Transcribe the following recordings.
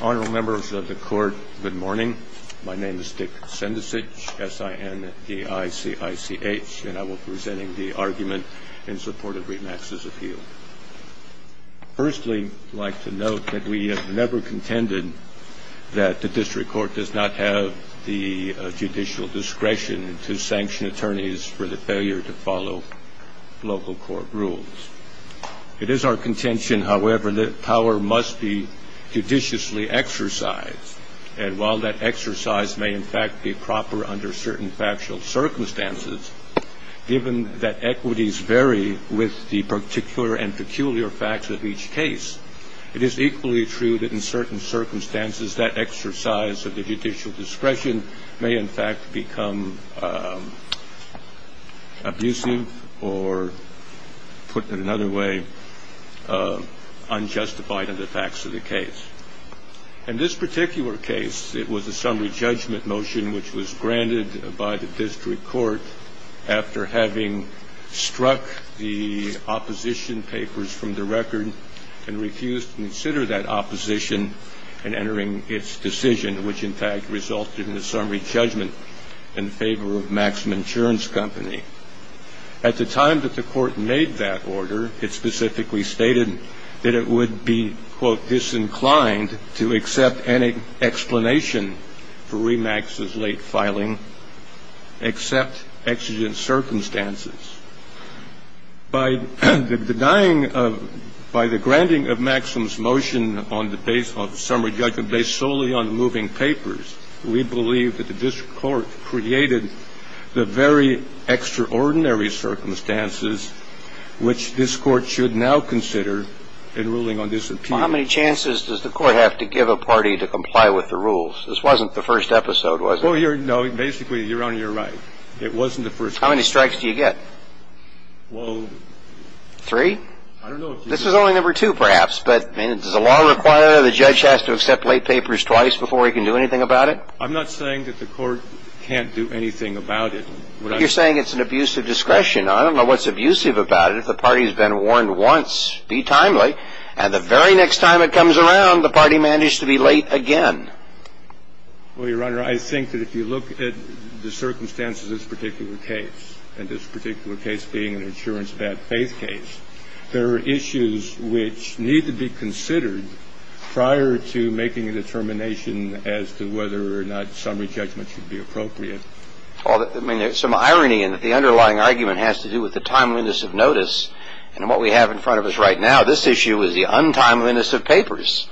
Honorable members of the court, good morning. My name is Dick Sendesich, S-I-N-D-I-C-I-C-H, and I will be presenting the argument in support of RE-MAX's appeal. Firstly, I'd like to note that we have never contended that the district court does not have the judicial discretion to sanction attorneys for the failure to follow local court rules. It is our contention, however, that power must be judiciously exercised, and while that exercise may in fact be proper under certain factual circumstances, given that equities vary with the particular and peculiar facts of each case, it is equally true that in certain circumstances that exercise of the judicial discretion may in fact become abusive or, put another way, unjustified in the facts of the case. In this particular case, it was a summary judgment motion which was granted by the district court after having struck the opposition papers from the record and refused to consider that opposition in entering its decision, which in fact resulted in a summary judgment in favor of Maxum Insurance Company. At the time that the court made that order, it specifically stated that it would be, quote, disinclined to accept any explanation for RE-MAX's late filing except exigent circumstances. By denying of – by the granting of Maxum's motion on the base of summary judgment based solely on moving papers, we believe that the district court created the very extraordinary circumstances which this court should now consider in ruling on disappeal. Well, how many chances does the court have to give a party to comply with the rules? This wasn't the first episode, was it? Well, you're – no, basically, you're on your right. It wasn't the first episode. How many strikes do you get? Well – Three? I don't know if you – I'm not saying that the court can't do anything about it. You're saying it's an abusive discretion. I don't know what's abusive about it. If the party's been warned once, be timely. And the very next time it comes around, the party managed to be late again. Well, Your Honor, I think that if you look at the circumstances of this particular case, and this particular case being an insurance bad faith case, there are issues which need to be considered prior to making a determination as to whether or not summary judgment should be appropriate. Well, I mean, there's some irony in that the underlying argument has to do with the timeliness of notice. And what we have in front of us right now, this issue is the untimeliness of papers.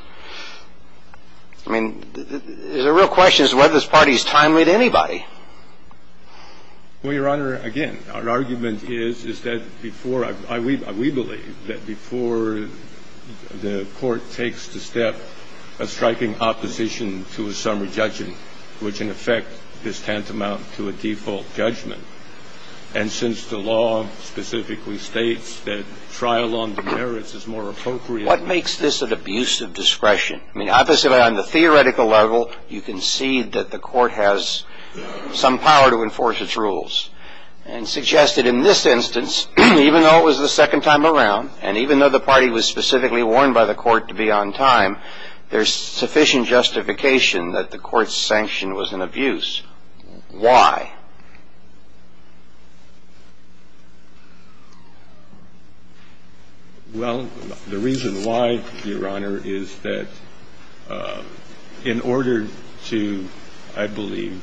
I mean, the real question is whether this party's timely to anybody. Well, Your Honor, again, our argument is that before – we believe that before the court takes the step of striking opposition to a summary judgment, which in effect is tantamount to a default judgment, and since the law specifically states that trial on the merits is more appropriate – What makes this an abusive discretion? I mean, obviously on the theoretical level, you can see that the court has some power to enforce its rules. And suggested in this instance, even though it was the second time around, and even though the party was specifically warned by the court to be on time, there's sufficient justification that the court's sanction was an abuse. Why? Well, the reason why, Your Honor, is that in order to, I believe,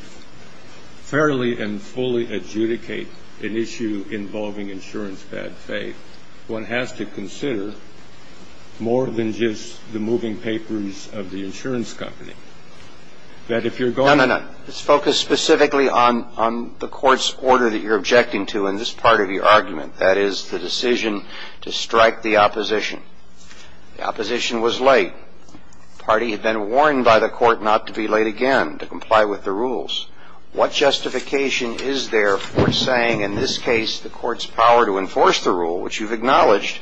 fairly and fully adjudicate an issue involving insurance bad faith, one has to consider more than just the moving papers of the insurance company, that if you're going – No, no, no. Let's focus specifically on the court's order that you're objecting to in this part of your argument, that is, the decision to strike the opposition. The opposition was late. The party had been warned by the court not to be late again, to comply with the rules. What justification is there for saying in this case the court's power to enforce the rule, which you've acknowledged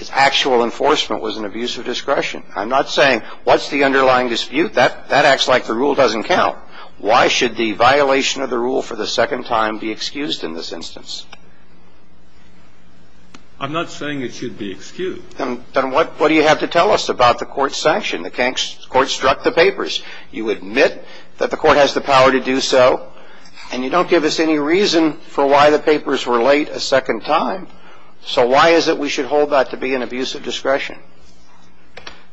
is actual enforcement, was an abusive discretion? I'm not saying what's the underlying dispute. That acts like the rule doesn't count. Why should the violation of the rule for the second time be excused in this instance? I'm not saying it should be excused. Then what do you have to tell us about the court's sanction? The court struck the papers. You admit that the court has the power to do so, and you don't give us any reason for why the papers were late a second time. So why is it we should hold that to be an abusive discretion?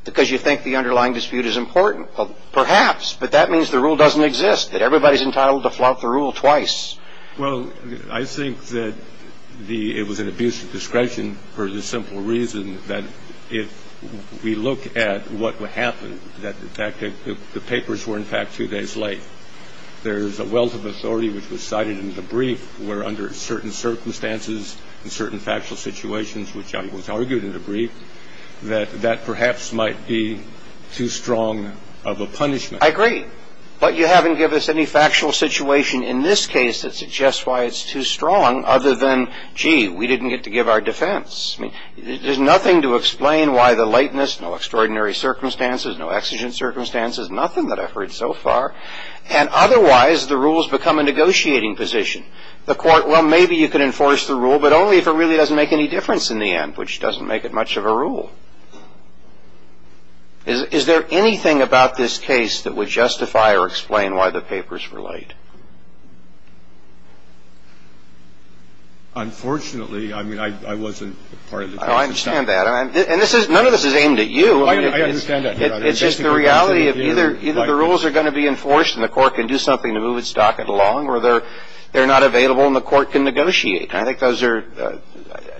Because you think the underlying dispute is important. Well, perhaps. But that means the rule doesn't exist, that everybody's entitled to flout the rule twice. Well, I think that it was an abusive discretion for the simple reason that if we look at what happened, that in fact the papers were in fact two days late. There's a wealth of authority which was cited in the brief where under certain circumstances and certain factual situations, which was argued in the brief, that that perhaps might be too strong of a punishment. I agree. But you haven't given us any factual situation in this case that suggests why it's too strong, other than, gee, we didn't get to give our defense. I mean, there's nothing to explain why the lateness, no extraordinary circumstances, no exigent circumstances, nothing that I've heard so far. And otherwise the rules become a negotiating position. The court, well, maybe you can enforce the rule, but only if it really doesn't make any difference in the end, which doesn't make it much of a rule. Is there anything about this case that would justify or explain why the papers were late? Unfortunately, I mean, I wasn't part of the case. I understand that. And none of this is aimed at you. I understand that. It's just the reality of either the rules are going to be enforced and the court can do something to move its docket along or they're not available and the court can negotiate. And I think those are the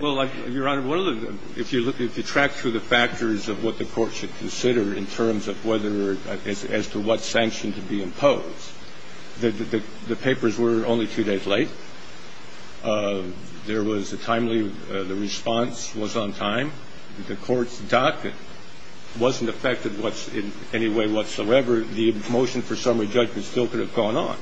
reasons. Well, Your Honor, if you track through the factors of what the court should consider in terms of whether or as to what sanction to be imposed, the papers were only two days late. There was a timely, the response was on time. The court's docket wasn't affected in any way whatsoever. The motion for summary judgment still could have gone on.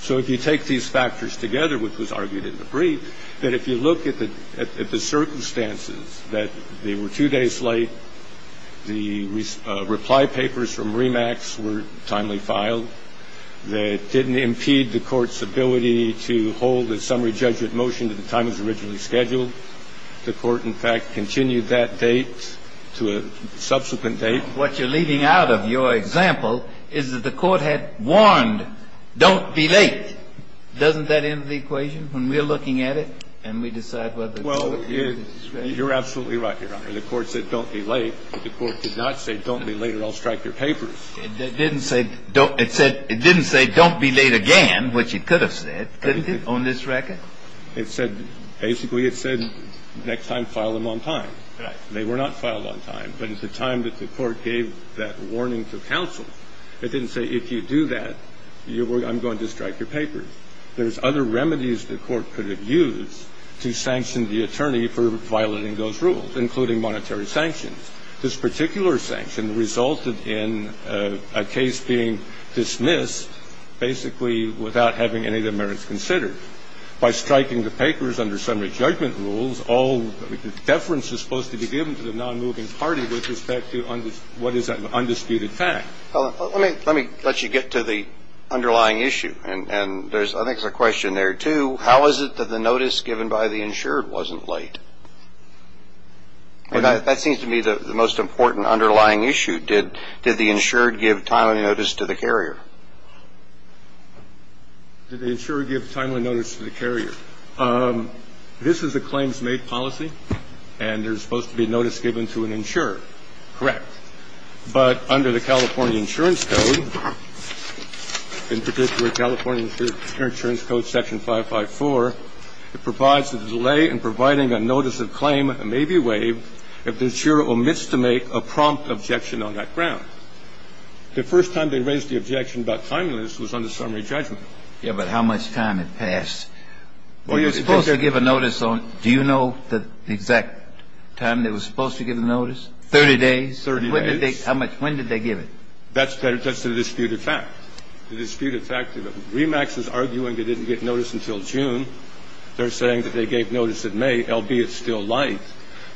So if you take these factors together, which was argued in the brief, that if you look at the circumstances that they were two days late, the reply papers from REMAX were timely filed. That didn't impede the court's ability to hold a summary judgment motion to the time it was originally scheduled. The court, in fact, continued that date to a subsequent date. What you're leaving out of your example is that the court had warned, don't be late. Doesn't that end the equation when we're looking at it and we decide whether to do it? Well, you're absolutely right, Your Honor. The court said don't be late, but the court did not say don't be late or I'll strike your papers. It didn't say don't be late again, which it could have said, couldn't it, on this record? It said, basically it said next time file them on time. Right. And they were not filed on time, but at the time that the court gave that warning to counsel, it didn't say if you do that, I'm going to strike your papers. There's other remedies the court could have used to sanction the attorney for violating those rules, including monetary sanctions. This particular sanction resulted in a case being dismissed, basically without having any of the merits considered. I think that's the same thing. If you're going to dismiss a case, you have to get the merits considered. By striking the papers under summary judgment rules, all deference is supposed to be given to the nonmoving party with respect to what is an undisputed fact. Let me let you get to the underlying issue. And I think there's a question there, too. How is it that the notice given by the insured wasn't late? That seems to me the most important underlying issue. Did the insured give timely notice to the carrier? Did the insured give timely notice to the carrier? This is a claims made policy, and there's supposed to be notice given to an insured. Correct. But under the California insurance code, in particular California insurance code section 554, it provides that the delay in providing a notice of claim may be waived if the insured omits to make a prompt objection on that ground. The first time they raised the objection about timeliness was under summary judgment. Yeah, but how much time had passed? They were supposed to give a notice on do you know the exact time they were supposed to give a notice? 30 days. 30 days. When did they give it? That's the disputed fact. The disputed fact is that REMAX is arguing they didn't get notice until June. They're saying that they gave notice in May, albeit still late.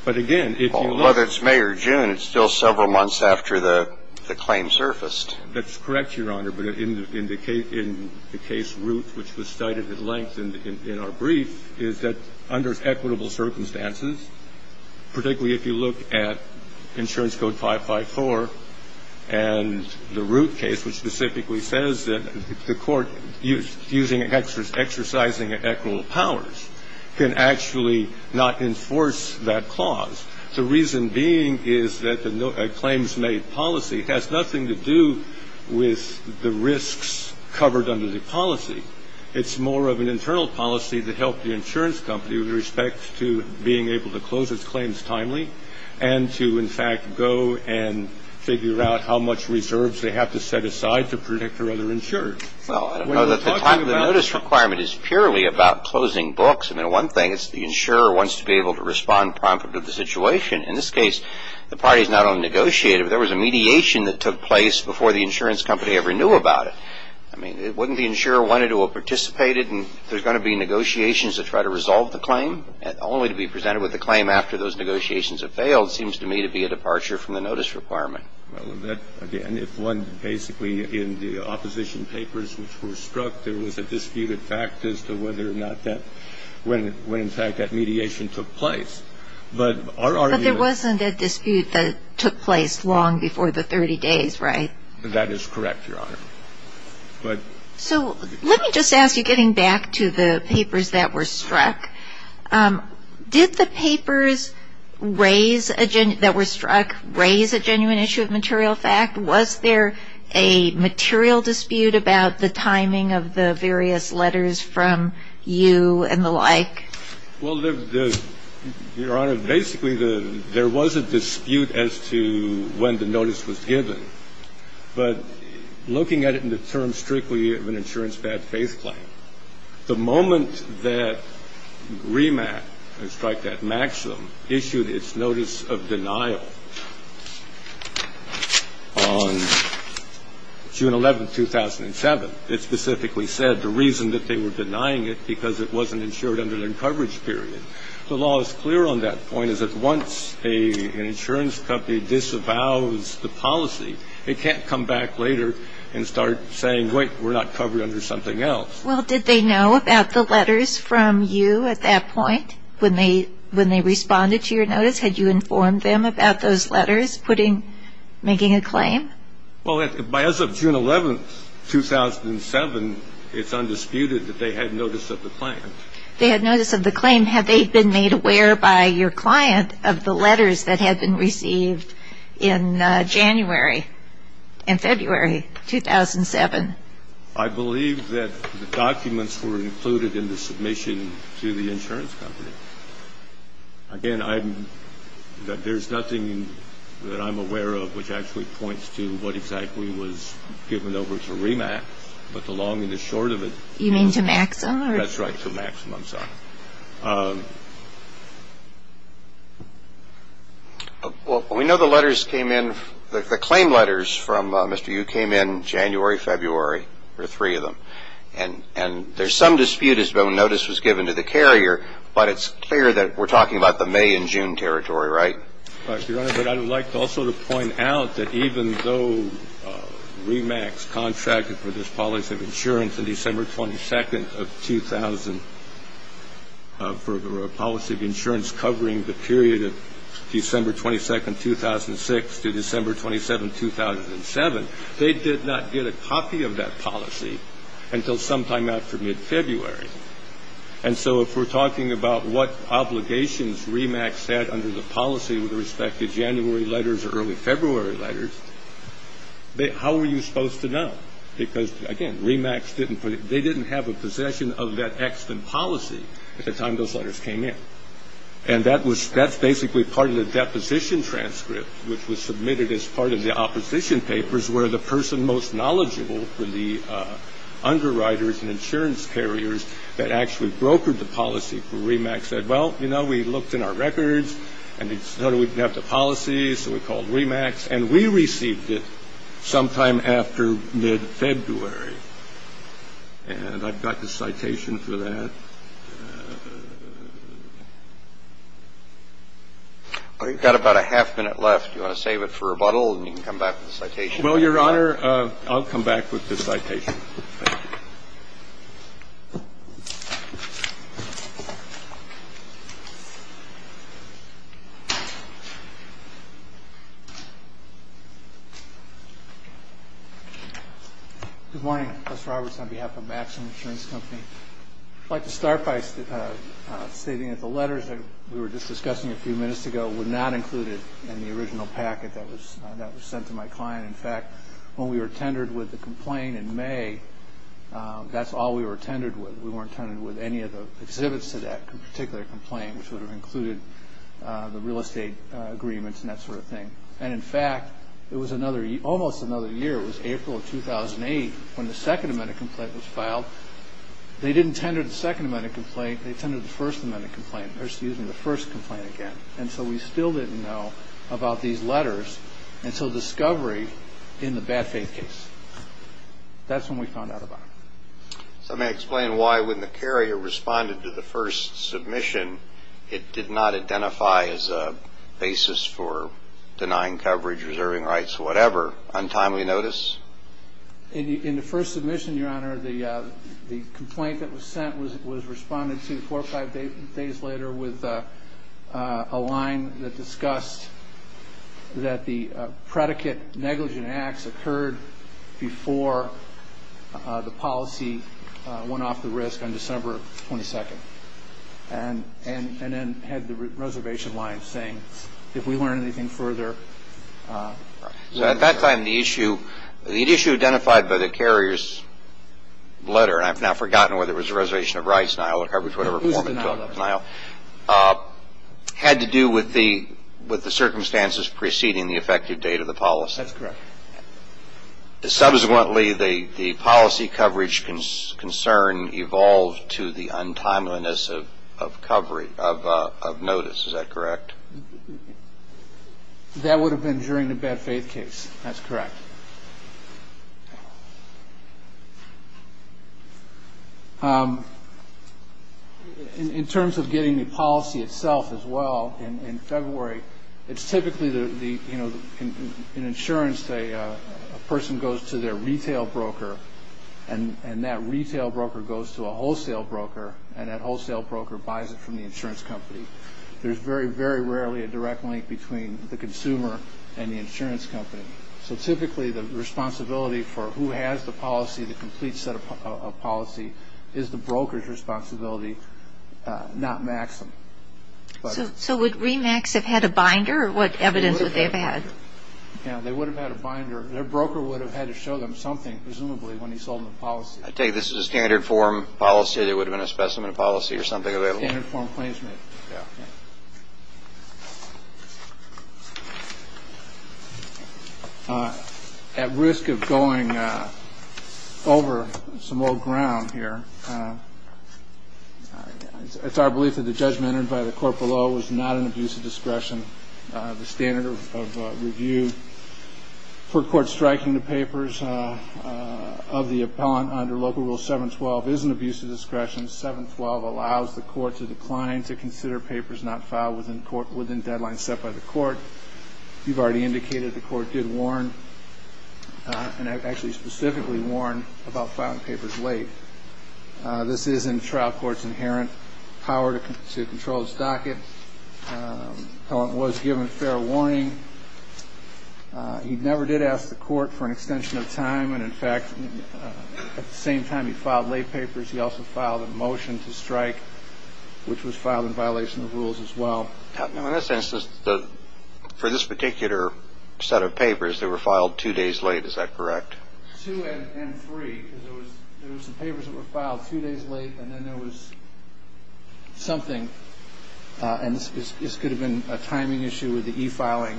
But again, if you look at it. Whether it's May or June, it's still several months after the claim surfaced. That's correct, Your Honor. But in the case Root, which was cited at length in our brief, is that under equitable circumstances, particularly if you look at insurance code 554 and the Root case, which specifically says that the court exercising equitable powers can actually not enforce that clause. The reason being is that a claims-made policy has nothing to do with the risks covered under the policy. It's more of an internal policy to help the insurance company with respect to being able to close its claims timely and to, in fact, go and figure out how much reserves they have to set aside to protect their other insurers. Well, I don't know that the time of the notice requirement is purely about closing books. I mean, one thing is the insurer wants to be able to respond promptly to the situation. In this case, the parties not only negotiated, but there was a mediation that took place before the insurance company ever knew about it. I mean, wouldn't the insurer want to do a participated and there's going to be negotiations to try to resolve the claim only to be presented with a claim after those negotiations have failed seems to me to be a departure from the notice requirement. Well, again, if one basically in the opposition papers which were struck, there was a disputed fact as to whether or not that when in fact that mediation took place. But there wasn't a dispute that took place long before the 30 days, right? That is correct, Your Honor. So let me just ask you, getting back to the papers that were struck, did the papers that were struck raise a genuine issue of material fact? Was there a material dispute about the timing of the various letters from you and the like? Well, Your Honor, basically there was a dispute as to when the notice was given. But looking at it in the terms strictly of an insurance bad faith claim, the moment that RIMAC, I strike that maximum, issued its notice of denial on June 11, 2007, it specifically said the reason that they were denying it because it wasn't insured under their coverage period. The law is clear on that point is that once an insurance company disavows the policy, it can't come back later and start saying, wait, we're not covered under something else. Well, did they know about the letters from you at that point when they responded to your notice? Had you informed them about those letters making a claim? Well, as of June 11, 2007, it's undisputed that they had notice of the claim. They had notice of the claim. Had they been made aware by your client of the letters that had been received in January and February 2007? I believe that the documents were included in the submission to the insurance company. Again, there's nothing that I'm aware of which actually points to what exactly was given over to RIMAC, but the long and the short of it. You mean to MAXIM? That's right, to MAXIM. I'm sorry. Well, we know the letters came in. The claim letters from Mr. Yu came in January, February. There were three of them. And there's some dispute as to when notice was given to the carrier, but it's clear that we're talking about the May and June territory, right? Your Honor, but I would like also to point out that even though RIMAC contracted for this policy of insurance on December 22nd of 2000 for a policy of insurance covering the period of December 22nd, 2006 to December 27th, 2007, they did not get a copy of that policy until sometime after mid-February. And so if we're talking about what obligations RIMAC set under the policy with respect to January letters or early February letters, how were you supposed to know? Because, again, RIMAC, they didn't have a possession of that extant policy at the time those letters came in. And that's basically part of the deposition transcript, which was submitted as part of the opposition papers, where the person most knowledgeable for the underwriters and insurance carriers that actually brokered the policy for RIMAC said, well, you know, we looked in our records and they said we didn't have the policy, so we called RIMAC. And we received it sometime after mid-February. And I've got the citation for that. Well, you've got about a half minute left. Do you want to save it for rebuttal and you can come back with the citation? Well, Your Honor, I'll come back with the citation. Thank you. Good morning. Gus Roberts on behalf of Maxim Insurance Company. I'd like to start by stating that the letters that we were just discussing a few minutes ago were not included in the original packet that was sent to my client. In fact, when we were tendered with the complaint in May, that's all we were tendered with. We weren't tendered with any of the exhibits to that particular complaint, which would have included the real estate agreements and that sort of thing. And, in fact, it was almost another year. It was April of 2008 when the Second Amendment complaint was filed. They didn't tender the Second Amendment complaint. They tendered the First Amendment complaint. And so we still didn't know about these letters until discovery in the bad faith case. That's when we found out about them. So may I explain why, when the carrier responded to the first submission, it did not identify as a basis for denying coverage, reserving rights, whatever? Untimely notice? In the first submission, Your Honor, the complaint that was sent was responded to four or five days later with a line that discussed that the predicate negligent acts occurred before the policy went off the wrist on December 22nd and then had the reservation line saying, if we learn anything further. So at that time, the issue identified by the carrier's letter, and I've now forgotten whether it was a reservation of rights denial or coverage, whatever form it took, denial, had to do with the circumstances preceding the effective date of the policy. That's correct. Subsequently, the policy coverage concern evolved to the untimeliness of notice. Is that correct? That would have been during the bad faith case. That's correct. In terms of getting the policy itself as well, in February, it's typically, you know, in insurance, a person goes to their retail broker and that retail broker goes to a wholesale broker and that wholesale broker buys it from the insurance company. There's very, very rarely a direct link between the consumer and the insurance company. So typically, the responsibility for who has the policy, the complete set of policy, is the broker's responsibility, not Maxim. So would ReMax have had a binder or what evidence would they have had? Yeah, they would have had a binder. Their broker would have had to show them something, presumably, when he sold them the policy. I take it this is a standard form policy. There would have been a specimen policy or something available? Standard form claims. Yeah. At risk of going over some old ground here, it's our belief that the judgment entered by the court below was not an abuse of discretion. The standard of review for court striking the papers of the appellant under Local Rule 712 is an abuse of discretion. 712 allows the court to decline to consider papers not filed within deadlines set by the court. You've already indicated the court did warn and actually specifically warned about filing papers late. This is in trial court's inherent power to control the stocket. The appellant was given fair warning. He never did ask the court for an extension of time, and, in fact, at the same time he filed late papers, he also filed a motion to strike, which was filed in violation of rules as well. Now, in that sense, for this particular set of papers, they were filed two days late. Is that correct? Two and three. There were some papers that were filed a few days late, and then there was something. And this could have been a timing issue with the e-filing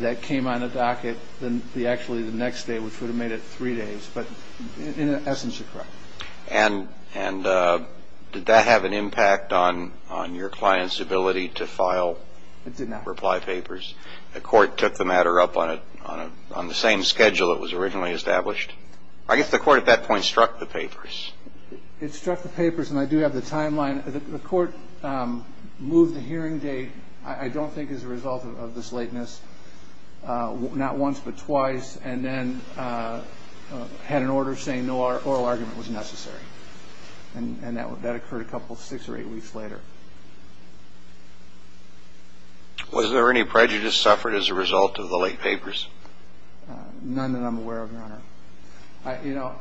that came on the docket. Then actually the next day we could have made it three days. But in essence, you're correct. And did that have an impact on your client's ability to file? It did not. Reply papers. The court took the matter up on the same schedule it was originally established. I guess the court at that point struck the papers. It struck the papers, and I do have the timeline. The court moved the hearing date, I don't think as a result of this lateness, not once but twice, and then had an order saying no oral argument was necessary. And that occurred a couple, six or eight weeks later. Was there any prejudice suffered as a result of the late papers? None that I'm aware of, Your Honor. You know,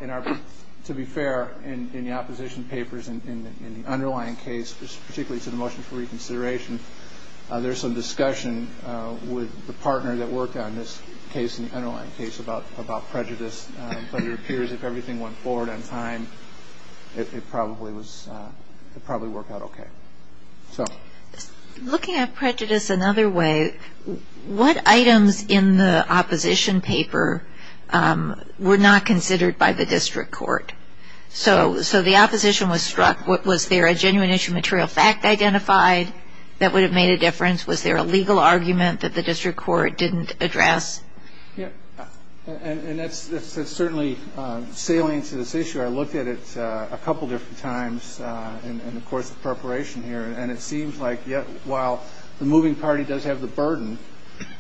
to be fair, in the opposition papers, in the underlying case, particularly to the motion for reconsideration, there's some discussion with the partner that worked on this case, in the underlying case, about prejudice. But it appears if everything went forward on time, it probably worked out okay. Looking at prejudice another way, what items in the opposition paper were not considered by the district court? So the opposition was struck. Was there a genuine issue material fact identified that would have made a difference? Was there a legal argument that the district court didn't address? And that's certainly salient to this issue. I looked at it a couple different times in the course of preparation here, and it seems like while the moving party does have the burden,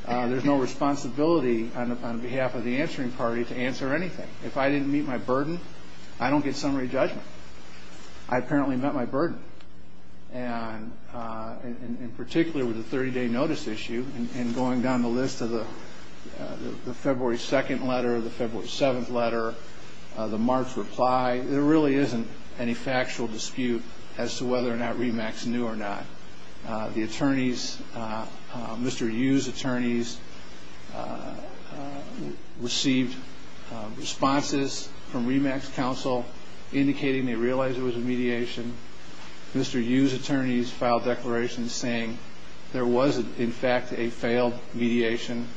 there's no responsibility on behalf of the answering party to answer anything. If I didn't meet my burden, I don't get summary judgment. I apparently met my burden. And in particular with the 30-day notice issue, and going down the list of the February 2nd letter, the February 7th letter, the March reply, there really isn't any factual dispute as to whether or not RE-MAX knew or not. The attorneys, Mr. Yu's attorneys, received responses from RE-MAX counsel indicating they realized it was a mediation. Mr. Yu's attorneys filed declarations saying there was, in fact, a failed mediation.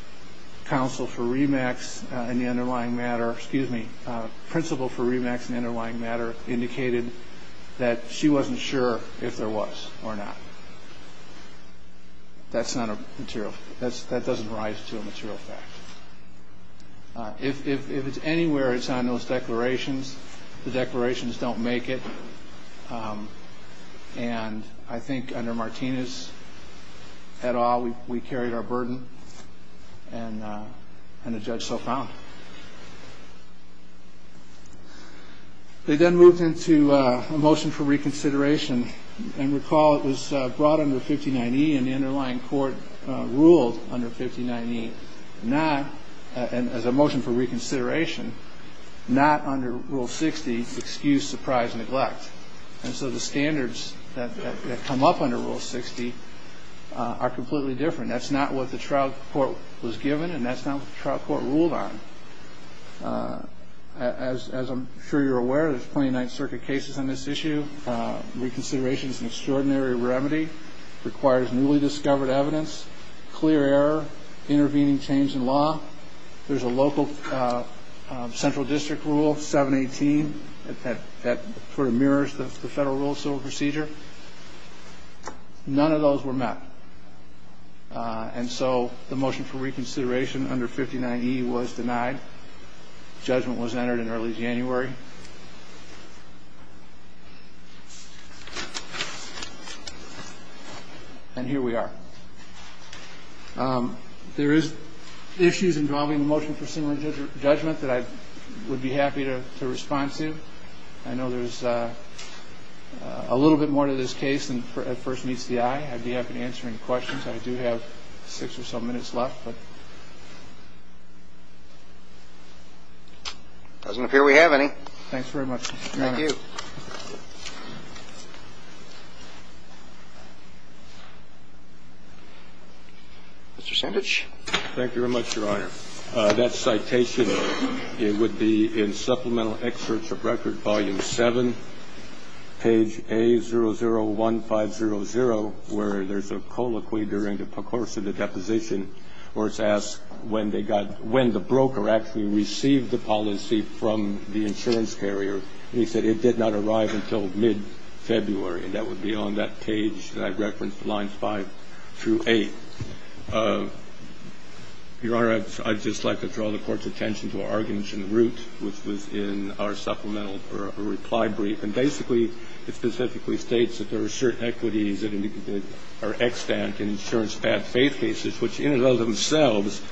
Counsel for RE-MAX in the underlying matter, excuse me, Principal for RE-MAX in the underlying matter indicated that she wasn't sure if there was or not. That's not a material fact. That doesn't rise to a material fact. If it's anywhere, it's on those declarations. The declarations don't make it. And I think under Martinez, et al., we carried our burden, and the judge so found. They then moved into a motion for reconsideration. And recall it was brought under 59E, and the underlying court ruled under 59E not, and as a motion for reconsideration, not under Rule 60, excuse, surprise, neglect. And so the standards that come up under Rule 60 are completely different. That's not what the trial court was given, and that's not what the trial court ruled on. As I'm sure you're aware, there's 29th Circuit cases on this issue. Reconsideration is an extraordinary remedy. It requires newly discovered evidence, clear error, intervening change in law. There's a local central district rule, 718, that sort of mirrors the federal rule of civil procedure. None of those were met. And so the motion for reconsideration under 59E was denied. Judgment was entered in early January. And here we are. There is issues involving the motion for similar judgment that I would be happy to respond to. I know there's a little bit more to this case than at first meets the eye. I'd be happy to answer any questions. I do have six or so minutes left. Doesn't appear we have any. Thanks very much, Mr. Chairman. Thank you. Mr. Sandich. Thank you very much, Your Honor. That citation, it would be in Supplemental Excerpts of Record, Volume 7, page A001500, where there's a colloquy during the course of the deposition where it's asked when they got – when the broker actually received the policy from the insurance carrier. And he said it did not arrive until mid-February. And that would be on that page that I referenced, lines 5 through 8. Your Honor, I'd just like to draw the Court's attention to an argument in Root, which was in our supplemental reply brief. And basically, it specifically states that there are certain equities that are extant in insurance bad-faith cases, which in and of themselves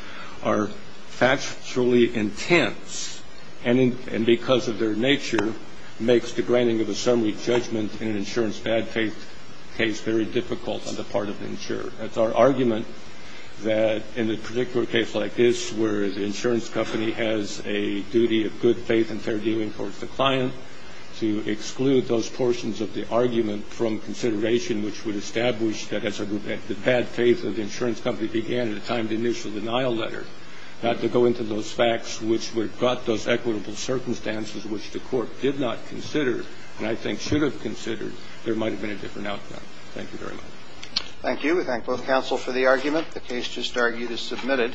are factually intense, and because of their nature makes the granting of a summary judgment in an insurance bad-faith case very difficult on the part of the insurer. That's our argument that in a particular case like this where the insurance company has a duty of good faith and fair dealing towards the client, to exclude those portions of the argument from consideration, which would establish that as a group, that the bad faith of the insurance company began at the time of the initial denial letter, not to go into those facts which would have got those equitable circumstances, which the Court did not consider and I think should have considered, there might have been a different outcome. Thank you very much. Thank you. We thank both counsel for the argument. The case just argued is submitted.